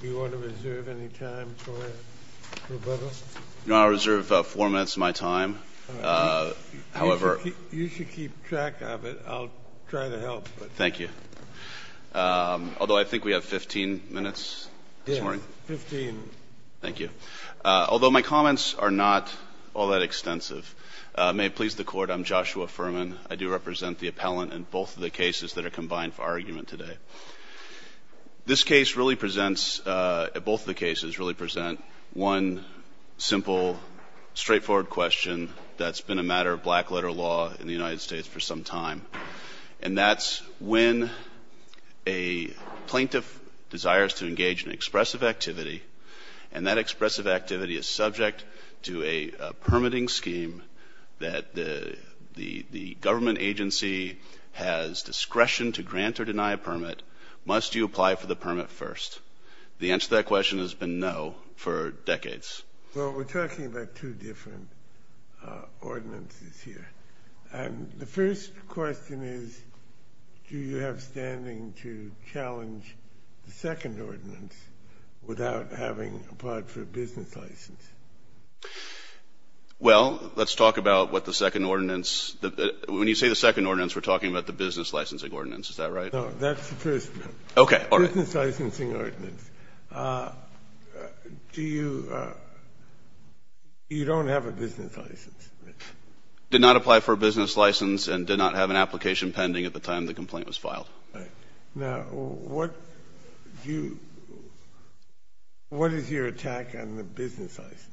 Do you want to reserve any time for it, Roberto? No, I'll reserve four minutes of my time. You should keep track of it. I'll try to help. Thank you. Although I think we have 15 minutes this morning. Yes, 15. Thank you. Although my comments are not all that extensive. May it please the Court, I'm Joshua Furman. I do represent the appellant in both of the cases that are combined for our argument today. This case really presents, both of the cases really present one simple, straightforward question that's been a matter of black letter law in the United States for some time. And that's when a plaintiff desires to engage in expressive activity, and that expressive activity is subject to a permitting scheme that the government agency has discretion to grant or deny a permit. Must you apply for the permit first? The answer to that question has been no for decades. Well, we're talking about two different ordinances here. And the first question is, do you have standing to challenge the second ordinance without having applied for a business license? Well, let's talk about what the second ordinance – when you say the second ordinance, we're talking about the business licensing ordinance. Is that right? No, that's the first one. Okay. Business licensing ordinance. Do you – you don't have a business license? Did not apply for a business license and did not have an application pending at the time the complaint was filed. Right. Now, what do you – what is your attack on the business license?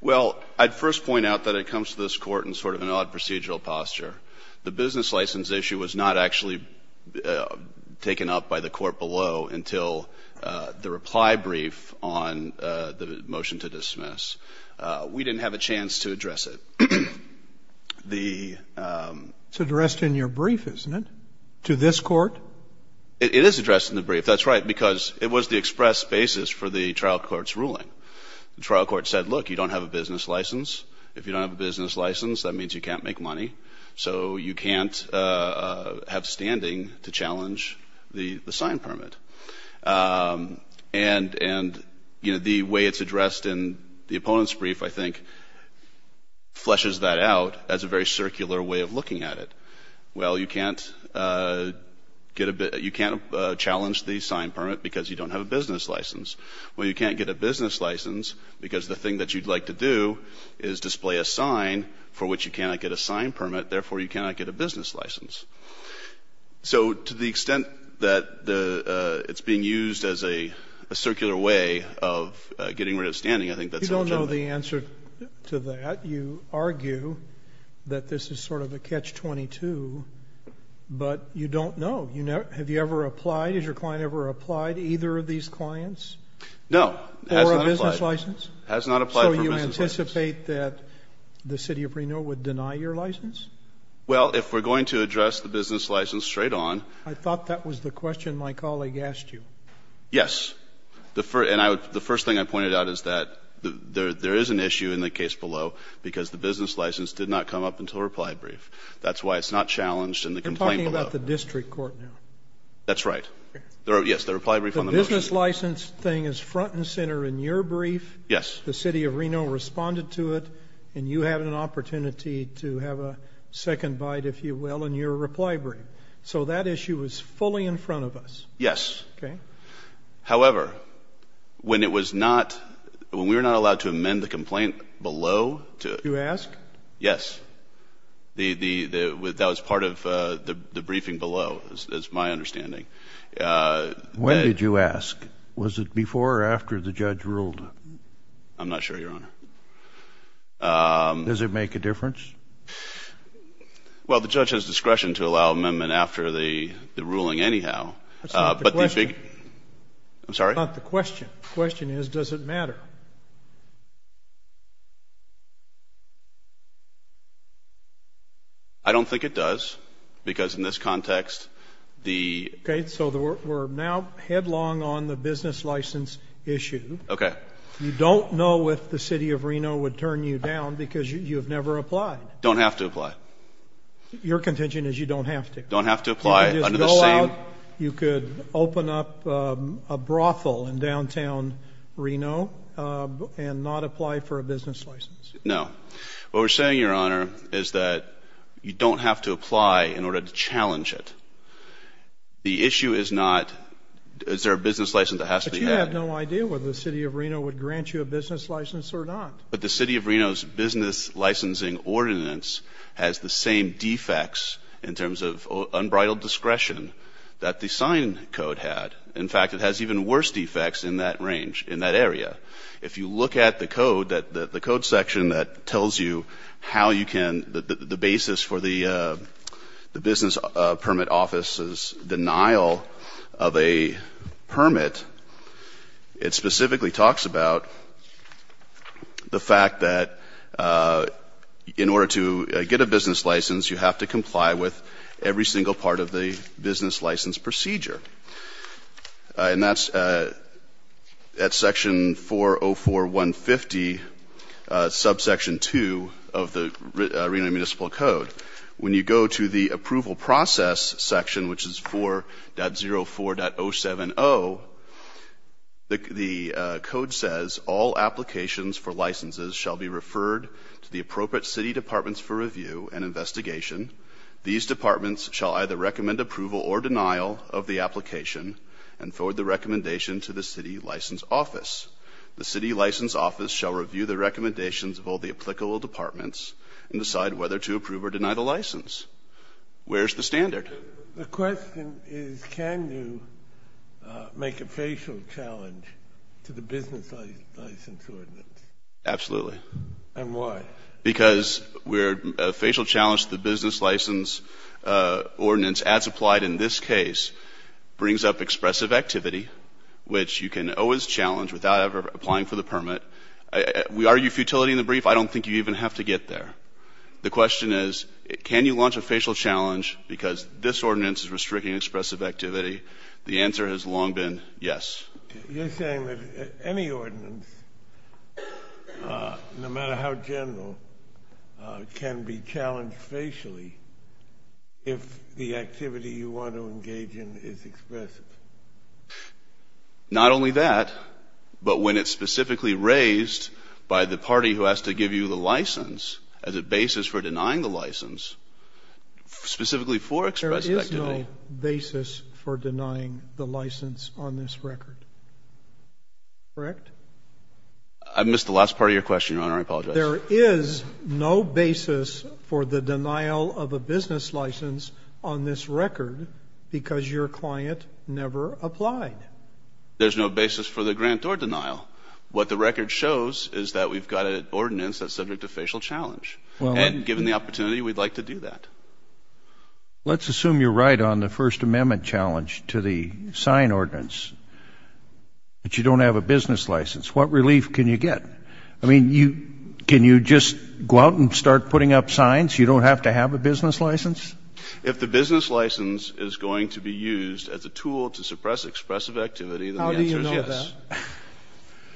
Well, I'd first point out that it comes to this Court in sort of an odd procedural posture. The business license issue was not actually taken up by the Court below until the reply brief on the motion to dismiss. We didn't have a chance to address it. It's addressed in your brief, isn't it, to this Court? It is addressed in the brief. That's right, because it was the express basis for the trial court's ruling. The trial court said, look, you don't have a business license. If you don't have a business license, that means you can't make money. So you can't have standing to challenge the sign permit. And, you know, the way it's addressed in the opponent's brief, I think, fleshes that out as a very circular way of looking at it. Well, you can't get a – you can't challenge the sign permit because you don't have a business license. Well, you can't get a business license because the thing that you'd like to do is display a sign for which you cannot get a sign permit, therefore you cannot get a business license. So to the extent that it's being used as a circular way of getting rid of standing, I think that's legitimate. You don't know the answer to that. You argue that this is sort of a catch-22, but you don't know. Have you ever applied? Has your client ever applied to either of these clients? No. Or a business license? Has not applied for a business license. So you anticipate that the city of Reno would deny your license? Well, if we're going to address the business license straight on. I thought that was the question my colleague asked you. Yes. And the first thing I pointed out is that there is an issue in the case below because the business license did not come up until reply brief. That's why it's not challenged in the complaint below. You're talking about the district court now. That's right. Yes, the reply brief on the motion. The business license thing is front and center in your brief. Yes. The city of Reno responded to it, and you have an opportunity to have a second bite, if you will, in your reply brief. So that issue is fully in front of us. Yes. Okay. However, when it was not – when we were not allowed to amend the complaint below. Did you ask? Yes. That was part of the briefing below, is my understanding. When did you ask? Was it before or after the judge ruled? I'm not sure, Your Honor. Does it make a difference? Well, the judge has discretion to allow amendment after the ruling anyhow. That's not the question. I'm sorry? That's not the question. The question is, does it matter? I don't think it does because in this context the – Okay, so we're now headlong on the business license issue. Okay. You don't know if the city of Reno would turn you down because you have never applied. Don't have to apply. Your contention is you don't have to. Don't have to apply under the same – You could go out, you could open up a brothel in downtown Reno and not apply for a business license. No. What we're saying, Your Honor, is that you don't have to apply in order to challenge it. The issue is not is there a business license that has to be had. But you have no idea whether the city of Reno would grant you a business license or not. But the city of Reno's business licensing ordinance has the same defects in terms of unbridled discretion that the sign code had. In fact, it has even worse defects in that range, in that area. If you look at the code, the code section that tells you how you can – the basis for the business permit office's denial of a permit, it specifically talks about the fact that in order to get a business license, you have to comply with every single part of the business license procedure. And that's at section 404.150, subsection 2 of the Reno Municipal Code. When you go to the approval process section, which is 4.04.070, the code says, all applications for licenses shall be referred to the appropriate city departments for review and investigation. These departments shall either recommend approval or denial of the application and forward the recommendation to the city license office. The city license office shall review the recommendations of all the applicable departments and decide whether to approve or deny the license. Where's the standard? The question is can you make a facial challenge to the business license ordinance? Absolutely. And why? Because a facial challenge to the business license ordinance, as applied in this case, brings up expressive activity, which you can always challenge without ever applying for the permit. We argue futility in the brief. I don't think you even have to get there. The question is can you launch a facial challenge because this ordinance is restricting expressive activity. The answer has long been yes. You're saying that any ordinance, no matter how general, can be challenged facially if the activity you want to engage in is expressive? Not only that, but when it's specifically raised by the party who has to give you the license as a basis for denying the license, specifically for expressive activity. There is no basis for denying the license on this record, correct? I missed the last part of your question, Your Honor. I apologize. There is no basis for the denial of a business license on this record because your client never applied. There's no basis for the grant or denial. What the record shows is that we've got an ordinance that's subject to facial challenge. And given the opportunity, we'd like to do that. Let's assume you're right on the First Amendment challenge to the sign ordinance, but you don't have a business license. What relief can you get? I mean, can you just go out and start putting up signs you don't have to have a business license? If the business license is going to be used as a tool to suppress expressive activity, then the answer is yes. How do you know that?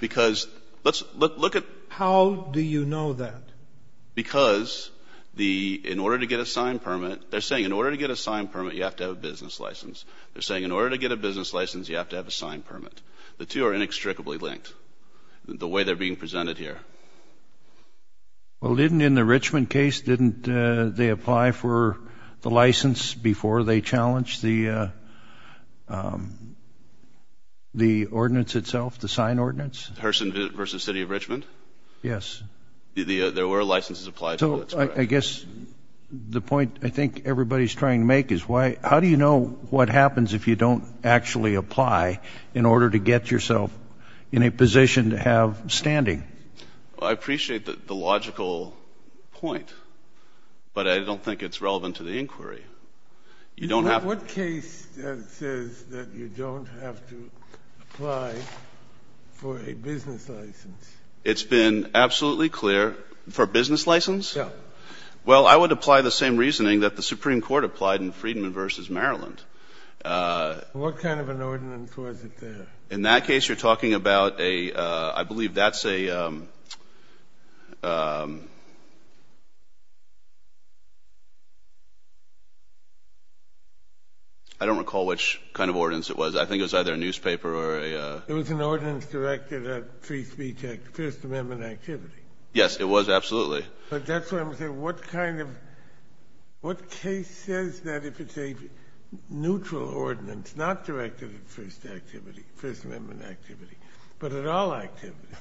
Because let's look at How do you know that? Because in order to get a sign permit, they're saying in order to get a sign permit, you have to have a business license. They're saying in order to get a business license, you have to have a sign permit. The two are inextricably linked, the way they're being presented here. Well, didn't in the Richmond case, didn't they apply for the license before they challenged the ordinance itself, the sign ordinance? Herson v. City of Richmond? Yes. There were licenses applied for. So I guess the point I think everybody's trying to make is how do you know what happens if you don't actually apply in order to get yourself in a position to have standing? I appreciate the logical point, but I don't think it's relevant to the inquiry. You don't have to What case says that you don't have to apply for a business license? It's been absolutely clear. For a business license? Yeah. Well, I would apply the same reasoning that the Supreme Court applied in Friedman v. Maryland. What kind of an ordinance was it there? In that case, you're talking about a, I believe that's a I don't recall which kind of ordinance it was. I think it was either a newspaper or a There was an ordinance directed at First Amendment activity. Yes, it was. Absolutely. But that's what I'm saying. What kind of, what case says that if it's a neutral ordinance, not directed at First Activity, First Amendment activity, but at all activities,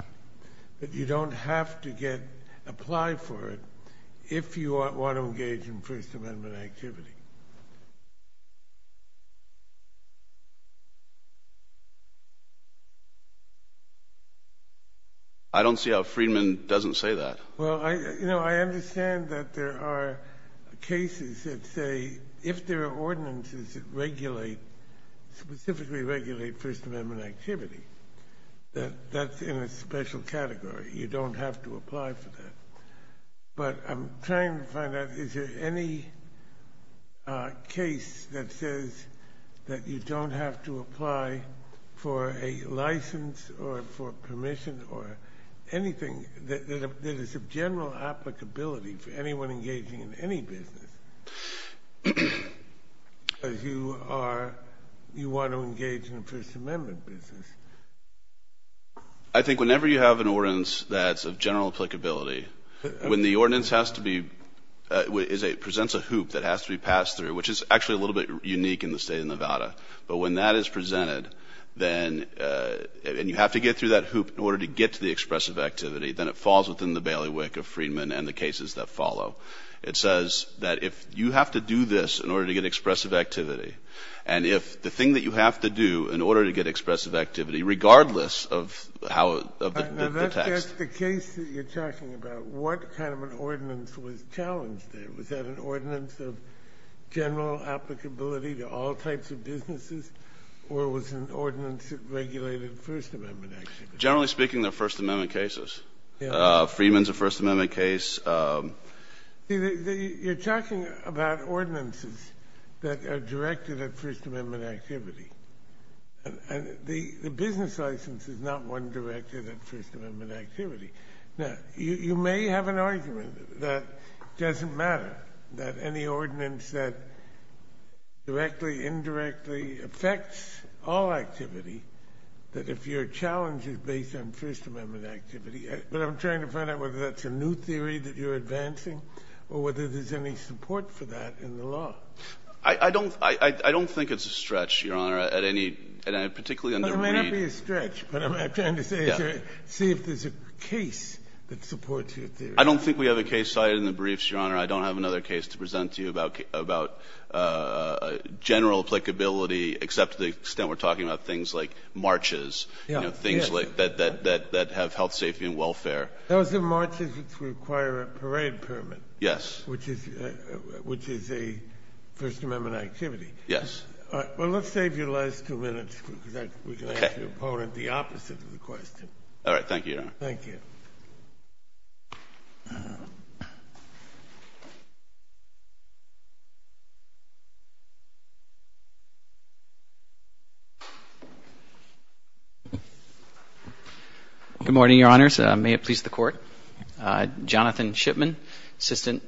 that you don't have to apply for it if you want to engage in First Amendment activity? I don't see how Friedman doesn't say that. Well, you know, I understand that there are cases that say if there are ordinances that regulate, specifically regulate First Amendment activity, that that's in a special category. You don't have to apply for that. But I'm trying to find out, is there any case that says that you don't have to apply for a license or for permission or anything that is of general applicability for anyone engaging in any business, as you are, you want to engage in a First Amendment business? I think whenever you have an ordinance that's of general applicability, when the ordinance has to be, presents a hoop that has to be passed through, which is actually a little bit unique in the state of Nevada, but when that is presented, then, and you have to get through that hoop in order to get to the expressive activity, then it falls within the bailiwick of Friedman and the cases that follow. It says that if you have to do this in order to get expressive activity, and if the thing that you have to do in order to get expressive activity, regardless of how the text. Now that's just the case that you're talking about. What kind of an ordinance was challenged there? Was that an ordinance of general applicability to all types of businesses, or was it an ordinance that regulated First Amendment activity? Generally speaking, they're First Amendment cases. Yeah. Friedman's a First Amendment case. You're talking about ordinances that are directed at First Amendment activity, and the business license is not one directed at First Amendment activity. Now, you may have an argument that doesn't matter, that any ordinance that directly, indirectly affects all activity, that if your challenge is based on First Amendment activity, but I'm trying to find out whether that's a new theory that you're advancing, or whether there's any support for that in the law. I don't think it's a stretch, Your Honor, at any, particularly in the read. It may not be a stretch, but I'm trying to see if there's a case that supports your theory. I don't think we have a case cited in the briefs, Your Honor. I don't have another case to present to you about general applicability, except to the extent we're talking about things like marches, things that have health, safety, and welfare. Those are marches which require a parade permit. Yes. Which is a First Amendment activity. Yes. Well, let's save you the last two minutes, because we can ask your opponent the opposite of the question. All right. Thank you, Your Honor. Thank you. Good morning, Your Honors. May it please the Court. Jonathan Shipman, Assistant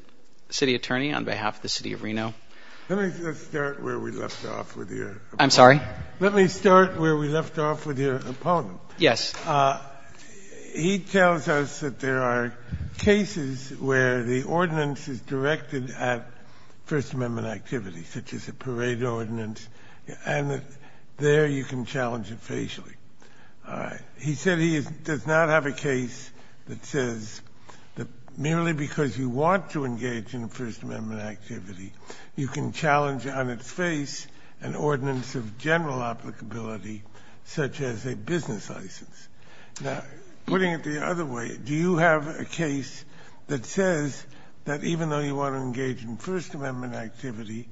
City Attorney on behalf of the City of Reno. Let me just start where we left off with your opponent. I'm sorry? Let me start where we left off with your opponent. Yes. He tells us that there are cases where the ordinance is directed at First Amendment activities, such as a parade ordinance, and that there you can challenge it facially. All right. He said he does not have a case that says that merely because you want to engage in a First Amendment activity, you can challenge on its face an ordinance of general applicability, such as a business license. Now, putting it the other way, do you have a case that says that even though you want to engage in First Amendment activity,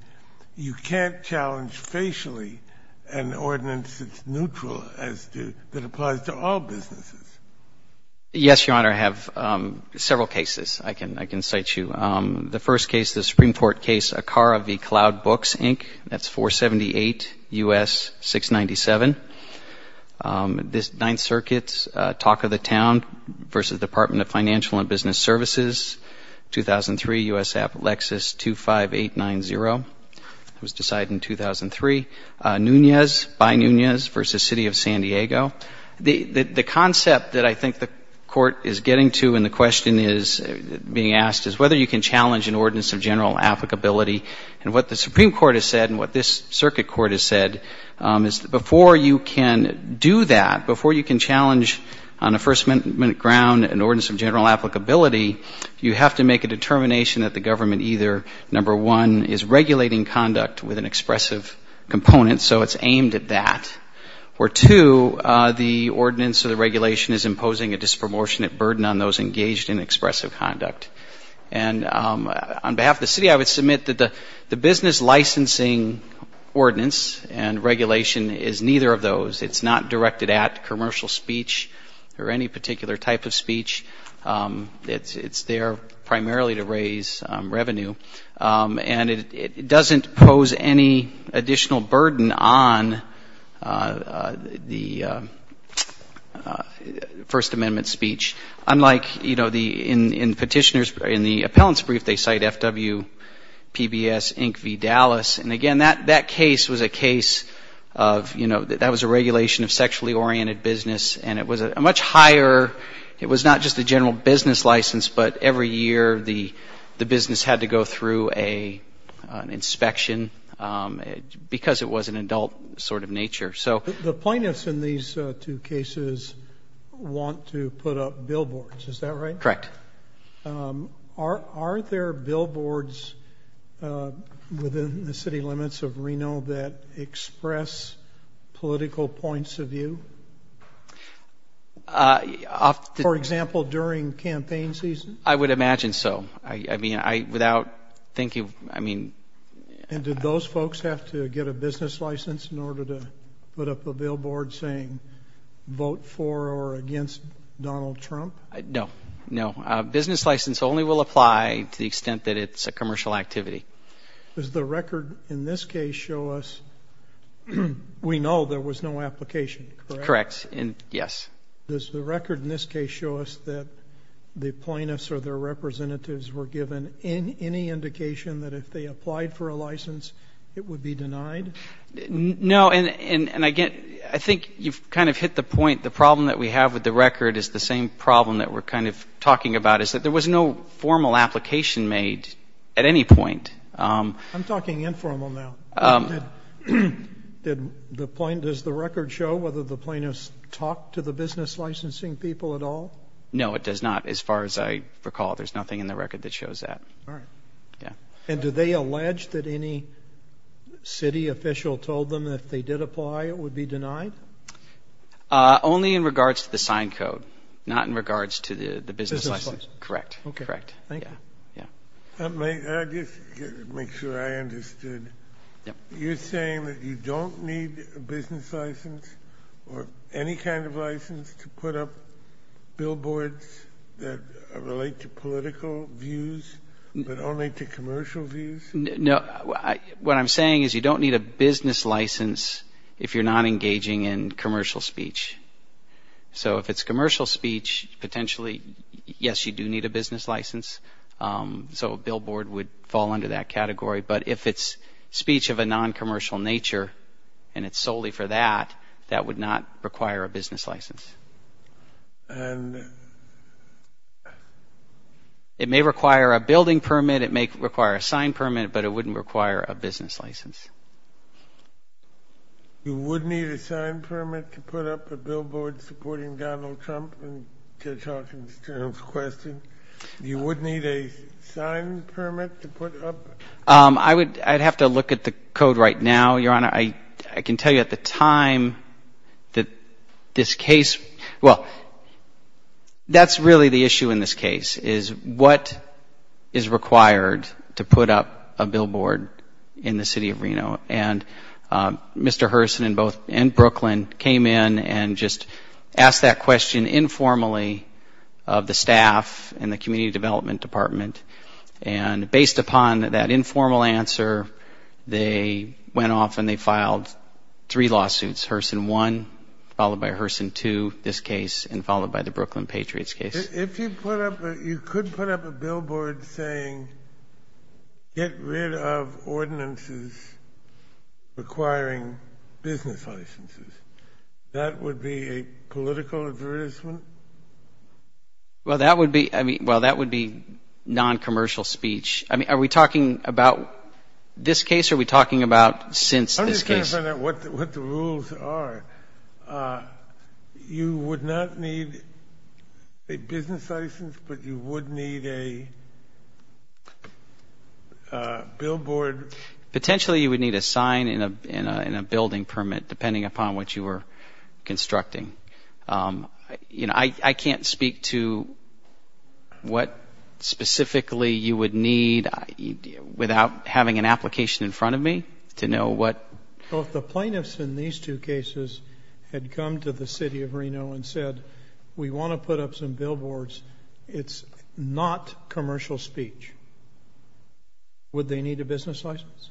you can't challenge facially an ordinance that's neutral as to — that applies to all businesses? Yes, Your Honor. I have several cases. I can cite you. The first case, the Supreme Court case, Acara v. Cloud Books, Inc. That's 478 U.S. 697. This Ninth Circuit's talk of the town versus Department of Financial and Business Services, 2003, U.S. Appalachia, 25890. It was decided in 2003. Nunez by Nunez versus City of San Diego. The concept that I think the Court is getting to and the question is being asked is whether you can challenge an ordinance of general applicability. And what the Supreme Court has said and what this Circuit Court has said is that before you can do that, before you can challenge on a First Amendment ground an ordinance of general applicability, you have to make a determination that the government either, number one, is regulating conduct with an expressive component, so it's aimed at that, or, two, the ordinance or the regulation is imposing a disproportionate burden on those engaged in expressive conduct. And on behalf of the city, I would submit that the business licensing ordinance and regulation is neither of those. It's not directed at commercial speech or any particular type of speech. It's there primarily to raise revenue. And it doesn't pose any additional burden on the First Amendment speech, unlike, you know, in petitioners, in the appellant's brief, they cite FWPBS, Inc. v. Dallas. And, again, that case was a case of, you know, that was a regulation of sexually oriented business, and it was a much higher, it was not just a general business license, but every year the business had to go through an inspection because it was an adult sort of nature. The plaintiffs in these two cases want to put up billboards, is that right? Correct. Are there billboards within the city limits of Reno that express political points of view? For example, during campaign season? I would imagine so. I mean, without thinking, I mean. And did those folks have to get a business license in order to put up a billboard saying, vote for or against Donald Trump? No, no. A business license only will apply to the extent that it's a commercial activity. Does the record in this case show us we know there was no application, correct? Correct. And, yes. Does the record in this case show us that the plaintiffs or their representatives were given any indication that if they applied for a license, it would be denied? No. And, again, I think you've kind of hit the point. The problem that we have with the record is the same problem that we're kind of talking about, is that there was no formal application made at any point. I'm talking informal now. Does the record show whether the plaintiffs talked to the business licensing people at all? No, it does not, as far as I recall. There's nothing in the record that shows that. All right. Yeah. And do they allege that any city official told them that if they did apply, it would be denied? Only in regards to the sign code, not in regards to the business license. Correct. Okay. Thank you. Yeah. May I just make sure I understood? Yeah. You're saying that you don't need a business license or any kind of license to put up billboards that relate to political views but only to commercial views? No. What I'm saying is you don't need a business license if you're not engaging in commercial speech. So if it's commercial speech, potentially, yes, you do need a business license. So a billboard would fall under that category. But if it's speech of a noncommercial nature and it's solely for that, that would not require a business license. And? It may require a building permit. It may require a sign permit. But it wouldn't require a business license. You would need a sign permit to put up a billboard supporting Donald Trump in Judge Hawkins' question? You would need a sign permit to put up? I'd have to look at the code right now, Your Honor. I can tell you at the time that this case – well, that's really the issue in this case, is what is required to put up a billboard in the city of Reno? And Mr. Hurson in both – and Brooklyn came in and just asked that question informally of the staff in the Community Development Department. And based upon that informal answer, they went off and they filed three lawsuits, Hurson 1 followed by Hurson 2, this case, and followed by the Brooklyn Patriots case. If you put up – you could put up a billboard saying get rid of ordinances requiring business licenses. That would be a political advertisement? Well, that would be – I mean, well, that would be noncommercial speech. I mean, are we talking about this case or are we talking about since this case? I'm just trying to find out what the rules are. You would not need a business license, but you would need a billboard? Potentially, you would need a sign and a building permit, depending upon what you were constructing. You know, I can't speak to what specifically you would need without having an application in front of me to know what – Well, if the plaintiffs in these two cases had come to the city of Reno and said, we want to put up some billboards, it's not commercial speech. Would they need a business license?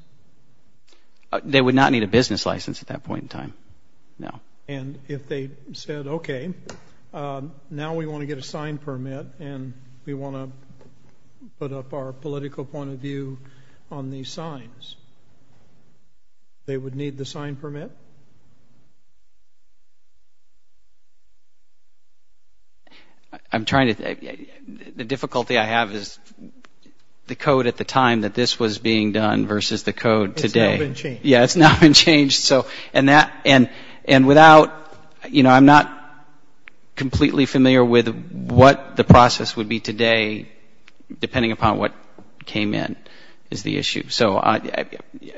They would not need a business license at that point in time, no. And if they said, okay, now we want to get a sign permit and we want to put up our political point of view on these signs, they would need the sign permit? I'm trying to – the difficulty I have is the code at the time that this was being done versus the code today. It's now been changed. Yeah, it's now been changed. So – and that – and without – you know, I'm not completely familiar with what the process would be today, depending upon what came in, is the issue. So,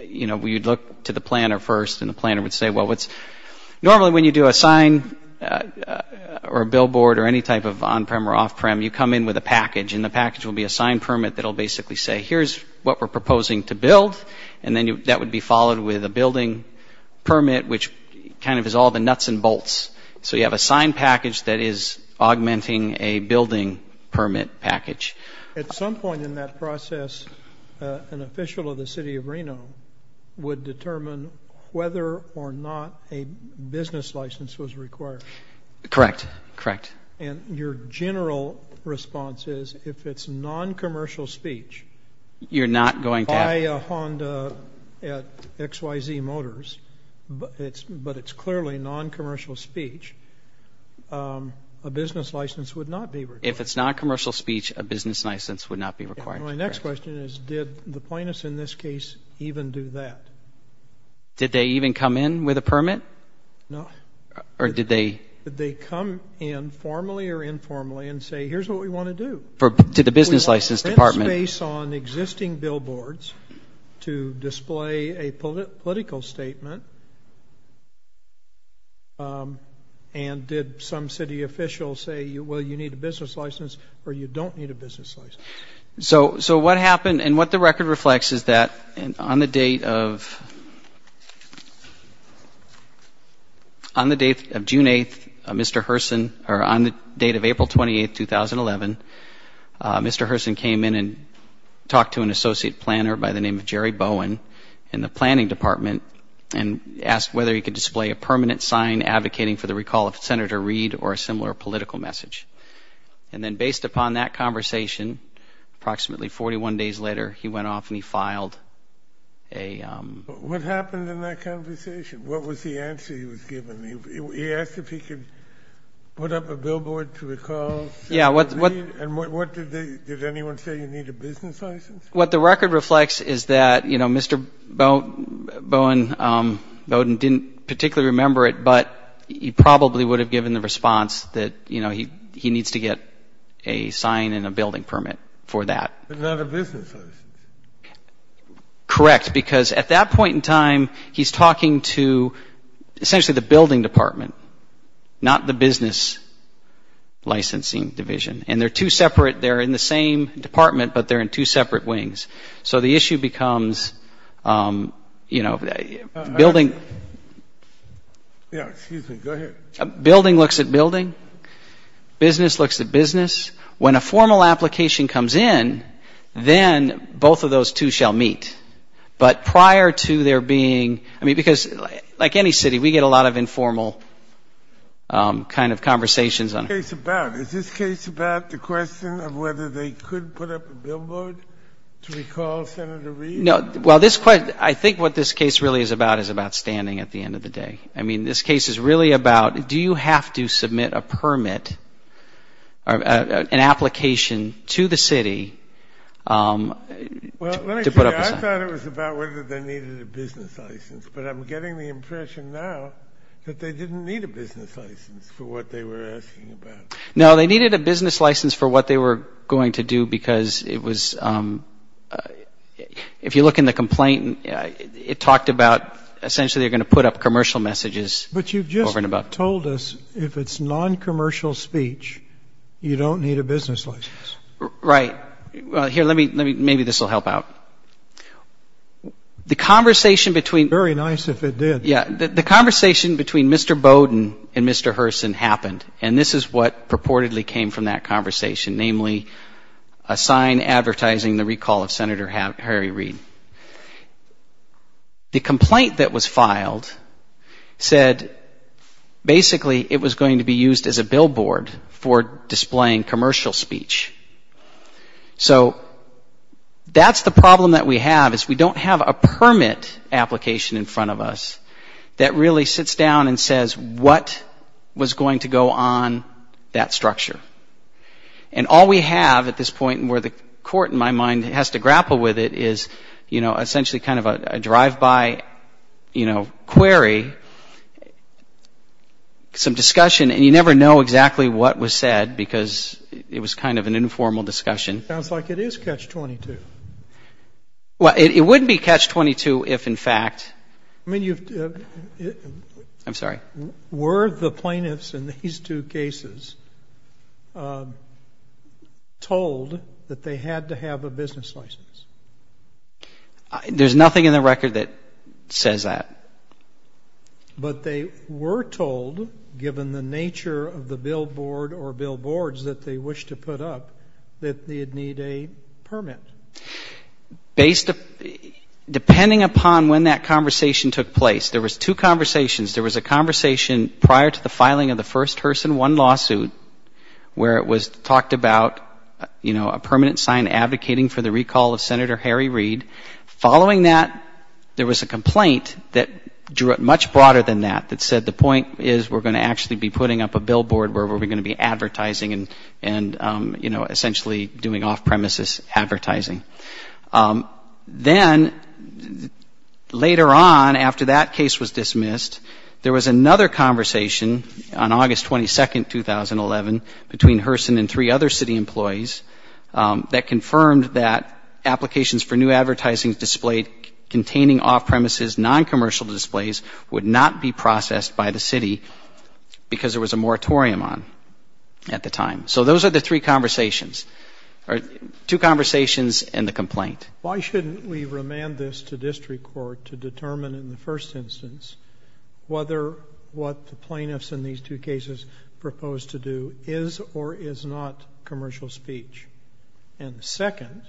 you know, you'd look to the planner first, and the planner would say, well, what's – normally when you do a sign or a billboard or any type of on-prem or off-prem, you come in with a package, and the package will be a sign permit that will basically say, here's what we're proposing to build, and then that would be followed with a building permit, which kind of is all the nuts and bolts. So you have a sign package that is augmenting a building permit package. At some point in that process, an official of the city of Reno would determine whether or not a business license was required. Correct. Correct. And your general response is, if it's non-commercial speech, buy a Honda at XYZ Motors, but it's clearly non-commercial speech, a business license would not be required. If it's non-commercial speech, a business license would not be required. My next question is, did the plaintiffs in this case even do that? Did they even come in with a permit? No. Or did they? Did they come in formally or informally and say, here's what we want to do? To the business license department. We want rent space on existing billboards to display a political statement, and did some city official say, well, you need a business license or you don't need a business license? So what happened and what the record reflects is that on the date of June 8th, Mr. Herson, or on the date of April 28th, 2011, Mr. Herson came in and talked to an associate planner by the name of Jerry Bowen in the planning department and asked whether he could display a permanent sign advocating for the recall of Senator Reid or a similar political message. And then based upon that conversation, approximately 41 days later, he went off and he filed a... What happened in that conversation? What was the answer he was given? He asked if he could put up a billboard to recall Senator Reid, and did anyone say you need a business license? What the record reflects is that, you know, Mr. Bowen didn't particularly remember it, but he probably would have given the response that, you know, he needs to get a sign and a building permit for that. But not a business license. Correct, because at that point in time, he's talking to essentially the building department, not the business licensing division. And they're two separate, they're in the same department, but they're in two separate wings. So the issue becomes, you know, building... Yeah, excuse me. Go ahead. Building looks at building. Business looks at business. When a formal application comes in, then both of those two shall meet. But prior to there being, I mean, because like any city, we get a lot of informal kind of conversations. What is this case about? Is this case about the question of whether they could put up a billboard to recall Senator Reid? Well, this question, I think what this case really is about is about standing at the end of the day. I mean, this case is really about do you have to submit a permit, an application to the city to put up a sign? Well, let me tell you, I thought it was about whether they needed a business license, but I'm getting the impression now that they didn't need a business license for what they were asking about. No, they needed a business license for what they were going to do because it was, if you look in the complaint, it talked about essentially they're going to put up commercial messages over and about. But you've just told us if it's noncommercial speech, you don't need a business license. Right. Here, let me, maybe this will help out. The conversation between. Very nice if it did. Yeah. The conversation between Mr. Bowden and Mr. Herson happened, and this is what purportedly came from that conversation, namely a sign advertising the recall of Senator Harry Reid. The complaint that was filed said basically it was going to be used as a billboard for displaying commercial speech. So that's the problem that we have is we don't have a permit application in front of us that really sits down and says what was going to go on that structure. And all we have at this point where the court, in my mind, has to grapple with it is, you know, essentially kind of a drive-by, you know, query, some discussion, and you never know exactly what was said because it was kind of an informal discussion. It sounds like it is catch-22. Well, it wouldn't be catch-22 if, in fact. I mean, you've. I'm sorry. Were the plaintiffs in these two cases told that they had to have a business license? There's nothing in the record that says that. But they were told, given the nature of the billboard or billboards that they wished to put up, that they'd need a permit. Based, depending upon when that conversation took place, there was two conversations. There was a conversation prior to the filing of the first Herson 1 lawsuit where it was talked about, you know, a permanent sign advocating for the recall of Senator Harry Reid. Following that, there was a complaint that drew it much broader than that, that said the point is we're going to actually be putting up a billboard where we're going to be advertising and, you know, essentially doing off-premises advertising. Then, later on, after that case was dismissed, there was another conversation on August 22, 2011, between Herson and three other city employees that confirmed that applications for new advertising displayed containing off-premises, noncommercial displays, would not be processed by the city because there was a moratorium on at the time. So those are the three conversations, or two conversations and the complaint. Why shouldn't we remand this to district court to determine in the first instance whether what the plaintiffs in these two cases proposed to do is or is not commercial speech? And the second,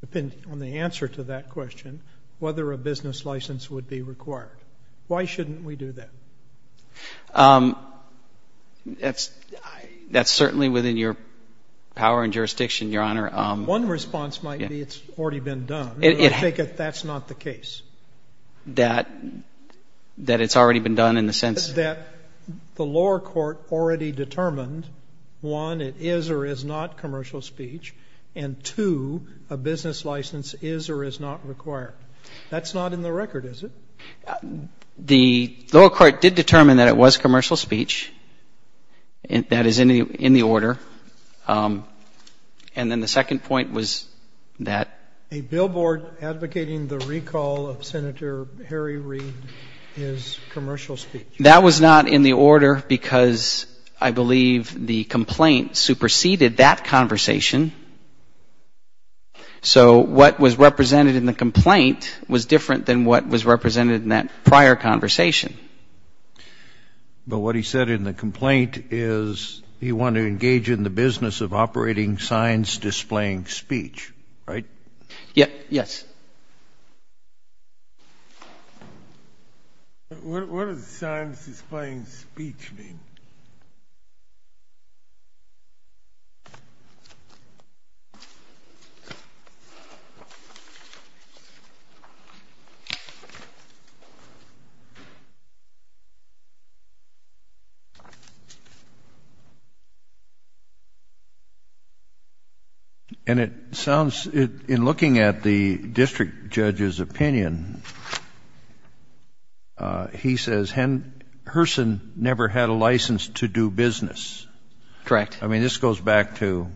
depending on the answer to that question, whether a business license would be required. Why shouldn't we do that? That's certainly within your power and jurisdiction, Your Honor. One response might be it's already been done. I take it that's not the case. That it's already been done in the sense that the lower court already determined, one, it is or is not commercial speech, and, two, a business license is or is not required. That's not in the record, is it? The lower court did determine that it was commercial speech. That is in the order. And then the second point was that a billboard advocating the recall of commercial speech would help Senator Harry Reid, his commercial speech. That was not in the order because I believe the complaint superseded that conversation. So what was represented in the complaint was different than what was represented in that prior conversation. But what he said in the complaint is he wanted to engage in the business of operating signs displaying speech, right? Yes. What does signs displaying speech mean? And it sounds, in looking at the district judge's opinion, he says Herson never had a license to do business. Correct. I mean, this goes back to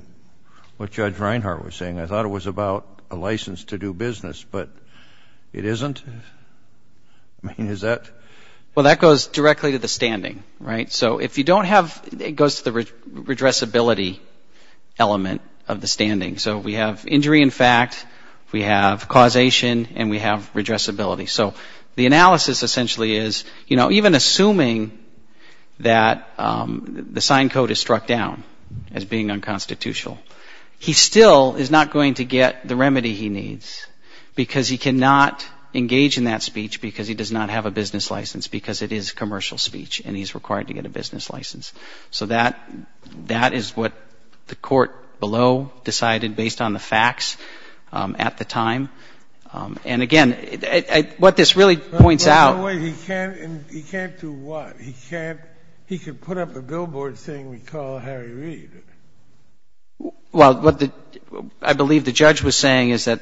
what Judge Reinhart was saying. I thought it was about a license to do business, but it isn't? I mean, is that? Well, that goes directly to the standing, right? So if you don't have, it goes to the redressability element of the standing. So we have injury in fact, we have causation, and we have redressability. So the analysis essentially is, you know, even assuming that the sign code is struck down as being unconstitutional, he still is not going to get the remedy he needs because he cannot engage in that speech because he does not have a business license because it is commercial speech and he's required to get a business license. So that is what the court below decided based on the facts at the time. And again, what this really points out — But wait, he can't do what? He can't, he can put up a billboard saying we call Harry Reid. Well, what I believe the judge was saying is that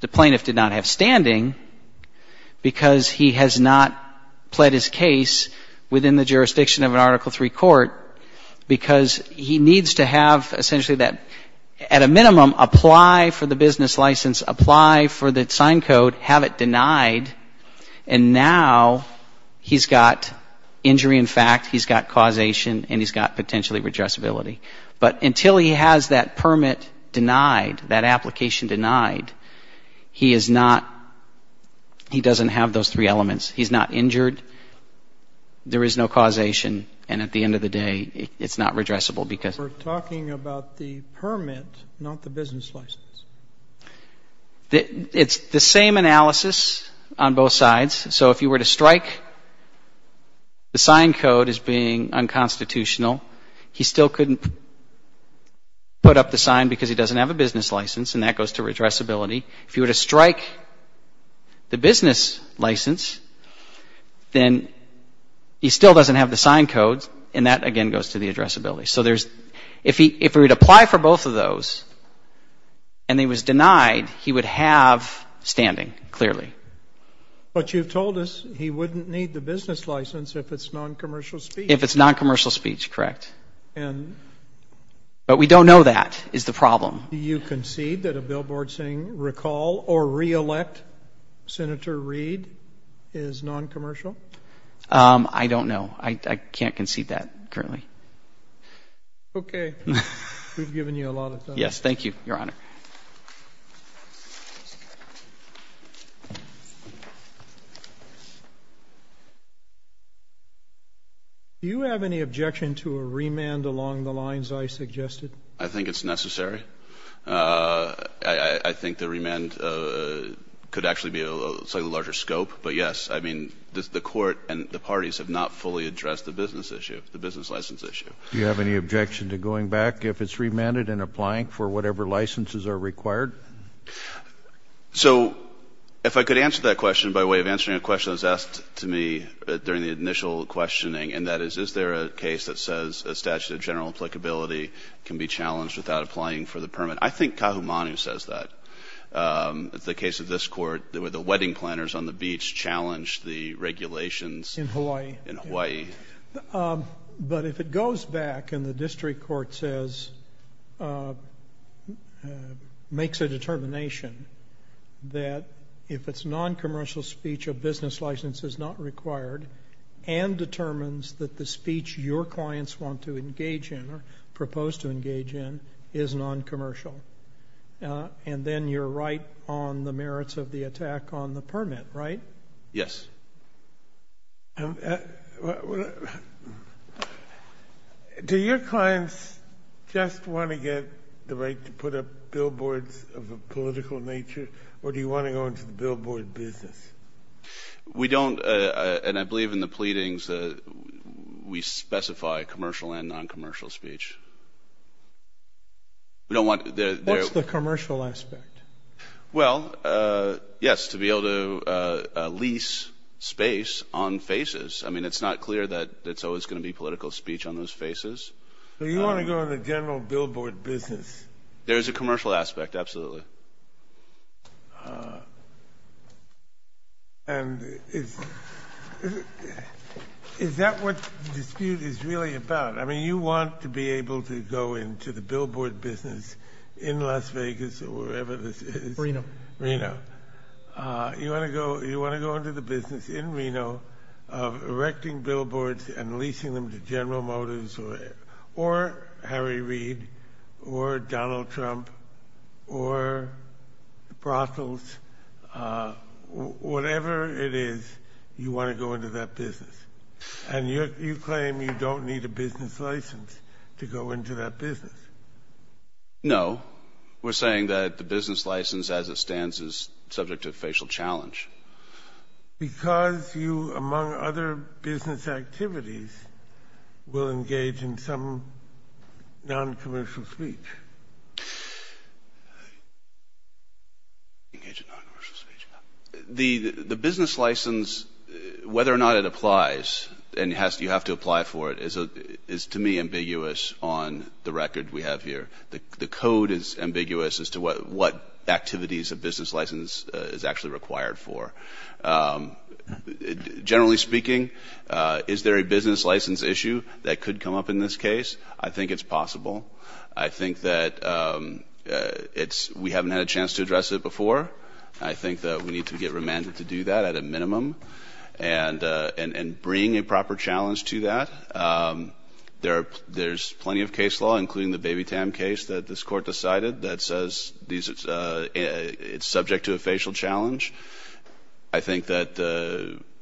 the plaintiff did not have standing because he has not pled his case within the jurisdiction of an Article III court because he needs to have essentially that, at a minimum, apply for the business license, apply for the sign code, have it denied, and now he's got injury in fact, he's got causation, and he's got potentially redressability. But until he has that permit denied, that application denied, he is not — he doesn't have those three elements. He's not injured, there is no causation, and at the end of the day, it's not redressable because — We're talking about the permit, not the business license. It's the same analysis on both sides. So if you were to strike the sign code as being unconstitutional, he still couldn't put up the sign because he doesn't have a business license, and that goes to redressability. If you were to strike the business license, then he still doesn't have the sign code, and that, again, goes to the addressability. So there's — if he would apply for both of those and he was denied, he would have standing, clearly. But you've told us he wouldn't need the business license if it's noncommercial speech. If it's noncommercial speech, correct. And — But we don't know that is the problem. Do you concede that a billboard saying recall or reelect Senator Reid is noncommercial? I don't know. I can't concede that currently. Okay. We've given you a lot of time. Yes. Thank you, Your Honor. Do you have any objection to a remand along the lines I suggested? I think it's necessary. I think the remand could actually be a slightly larger scope. But, yes, I mean, the court and the parties have not fully addressed the business issue, the business license issue. Do you have any objection to going back if it's remanded and applying for whatever licenses are required? So if I could answer that question by way of answering a question that was asked to me during the initial questioning, and that is, is there a case that says a statute of general applicability can be challenged without applying for the permit? I think Kahumanu says that. The case of this court, the wedding planners on the beach challenged the regulations. In Hawaii. In Hawaii. But if it goes back and the district court says, makes a determination that if it's noncommercial speech, a business license is not required, and determines that the speech your clients want to engage in or propose to engage in is noncommercial, and then you're right on the merits of the attack on the permit, right? Yes. Do your clients just want to get the right to put up billboards of a political nature, or do you want to go into the billboard business? We don't, and I believe in the pleadings, we specify commercial and noncommercial speech. What's the commercial aspect? Well, yes, to be able to lease space on faces. I mean, it's not clear that it's always going to be political speech on those faces. So you want to go in the general billboard business? There is a commercial aspect, absolutely. And is that what the dispute is really about? I mean, you want to be able to go into the billboard business in Las Vegas or wherever this is. Reno. Reno. You want to go into the business in Reno of erecting billboards and leasing them to General Motors or Harry Reid or Donald Trump or Brussels, whatever it is, you want to go into that business. And you claim you don't need a business license to go into that business. No. We're saying that the business license as it stands is subject to a facial challenge. Because you, among other business activities, will engage in some noncommercial speech. Engage in noncommercial speech. The business license, whether or not it applies, and you have to apply for it, is to me ambiguous on the record we have here. The code is ambiguous as to what activities a business license is actually required for. Generally speaking, is there a business license issue that could come up in this case? I think it's possible. I think that we haven't had a chance to address it before. I think that we need to get remanded to do that at a minimum and bring a proper challenge to that. There's plenty of case law, including the Baby Tam case that this court decided, that says it's subject to a facial challenge. I think that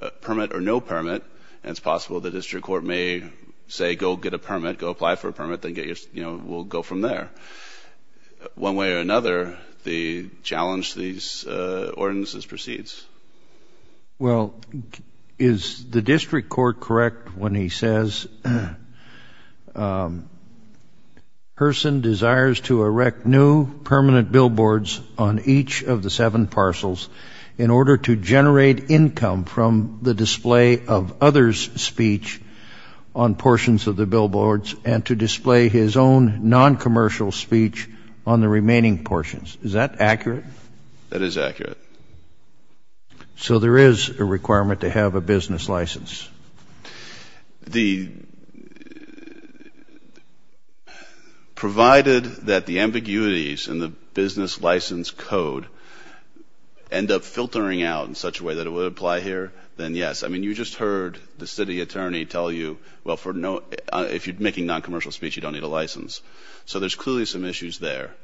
a permit or no permit, and it's possible the district court may say go get a permit, go apply for a permit, then we'll go from there. One way or another, the challenge to these ordinances proceeds. Well, is the district court correct when he says, Herson desires to erect new permanent billboards on each of the seven parcels in order to generate income from the display of others' speech on portions of the billboards and to display his own noncommercial speech on the remaining portions. Is that accurate? That is accurate. So there is a requirement to have a business license. Provided that the ambiguities in the business license code end up filtering out in such a way that it would apply here, then yes. I mean, you just heard the city attorney tell you, well, if you're making noncommercial speech, you don't need a license. So there's clearly some issues there.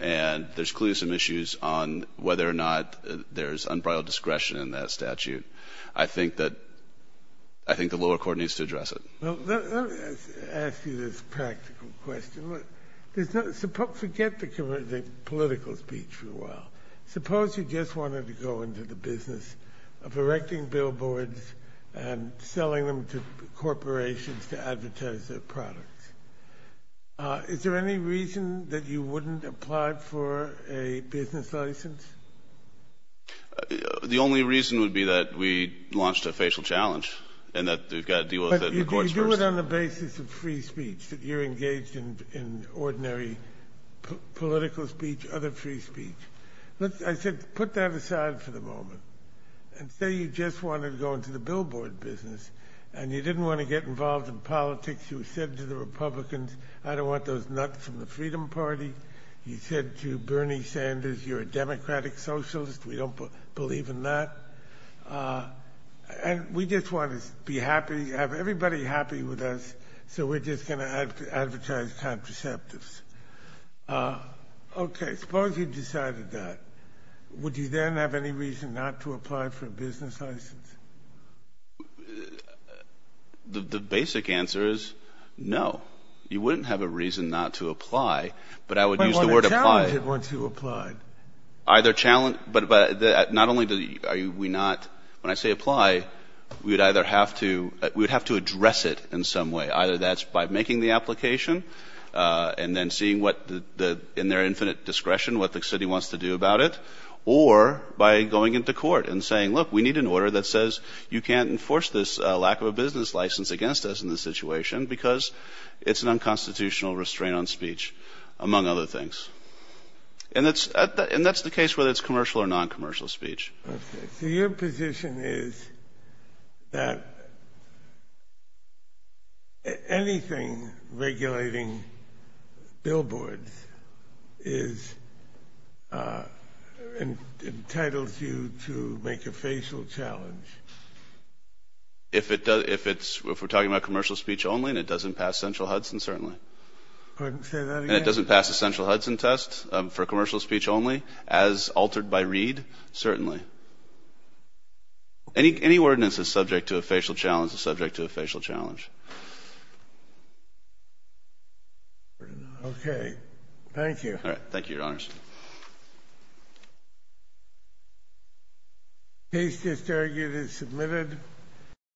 And there's clearly some issues on whether or not there's unbridled discretion in that statute. I think that the lower court needs to address it. Let me ask you this practical question. Forget the political speech for a while. Suppose you just wanted to go into the business of erecting billboards and selling them to corporations to advertise their products. Is there any reason that you wouldn't apply for a business license? The only reason would be that we launched a facial challenge and that we've got to deal with it in the courts first. But you do it on the basis of free speech, that you're engaged in ordinary political speech, other free speech. I said put that aside for the moment. And say you just wanted to go into the billboard business and you didn't want to get involved in politics. You said to the Republicans, I don't want those nuts from the Freedom Party. You said to Bernie Sanders, you're a democratic socialist. We don't believe in that. And we just want to be happy, have everybody happy with us, so we're just going to advertise contraceptives. Okay, suppose you decided that. Would you then have any reason not to apply for a business license? The basic answer is no. You wouldn't have a reason not to apply, but I would use the word apply. But you want to challenge it once you apply. Either challenge, but not only are we not, when I say apply, we would either have to address it in some way. Either that's by making the application and then seeing what, in their infinite discretion, what the city wants to do about it, or by going into court and saying, look, we need an order that says you can't enforce this lack of a business license against us in this situation because it's an unconstitutional restraint on speech, among other things. And that's the case whether it's commercial or non-commercial speech. So your position is that anything regulating billboards entitles you to make a facial challenge? If we're talking about commercial speech only and it doesn't pass central Hudson, certainly. Couldn't say that again. And it doesn't pass the central Hudson test for commercial speech only, as altered by Reed, certainly. Any ordinance that's subject to a facial challenge is subject to a facial challenge. Thank you. Thank you, Your Honors. Case just argued and submitted.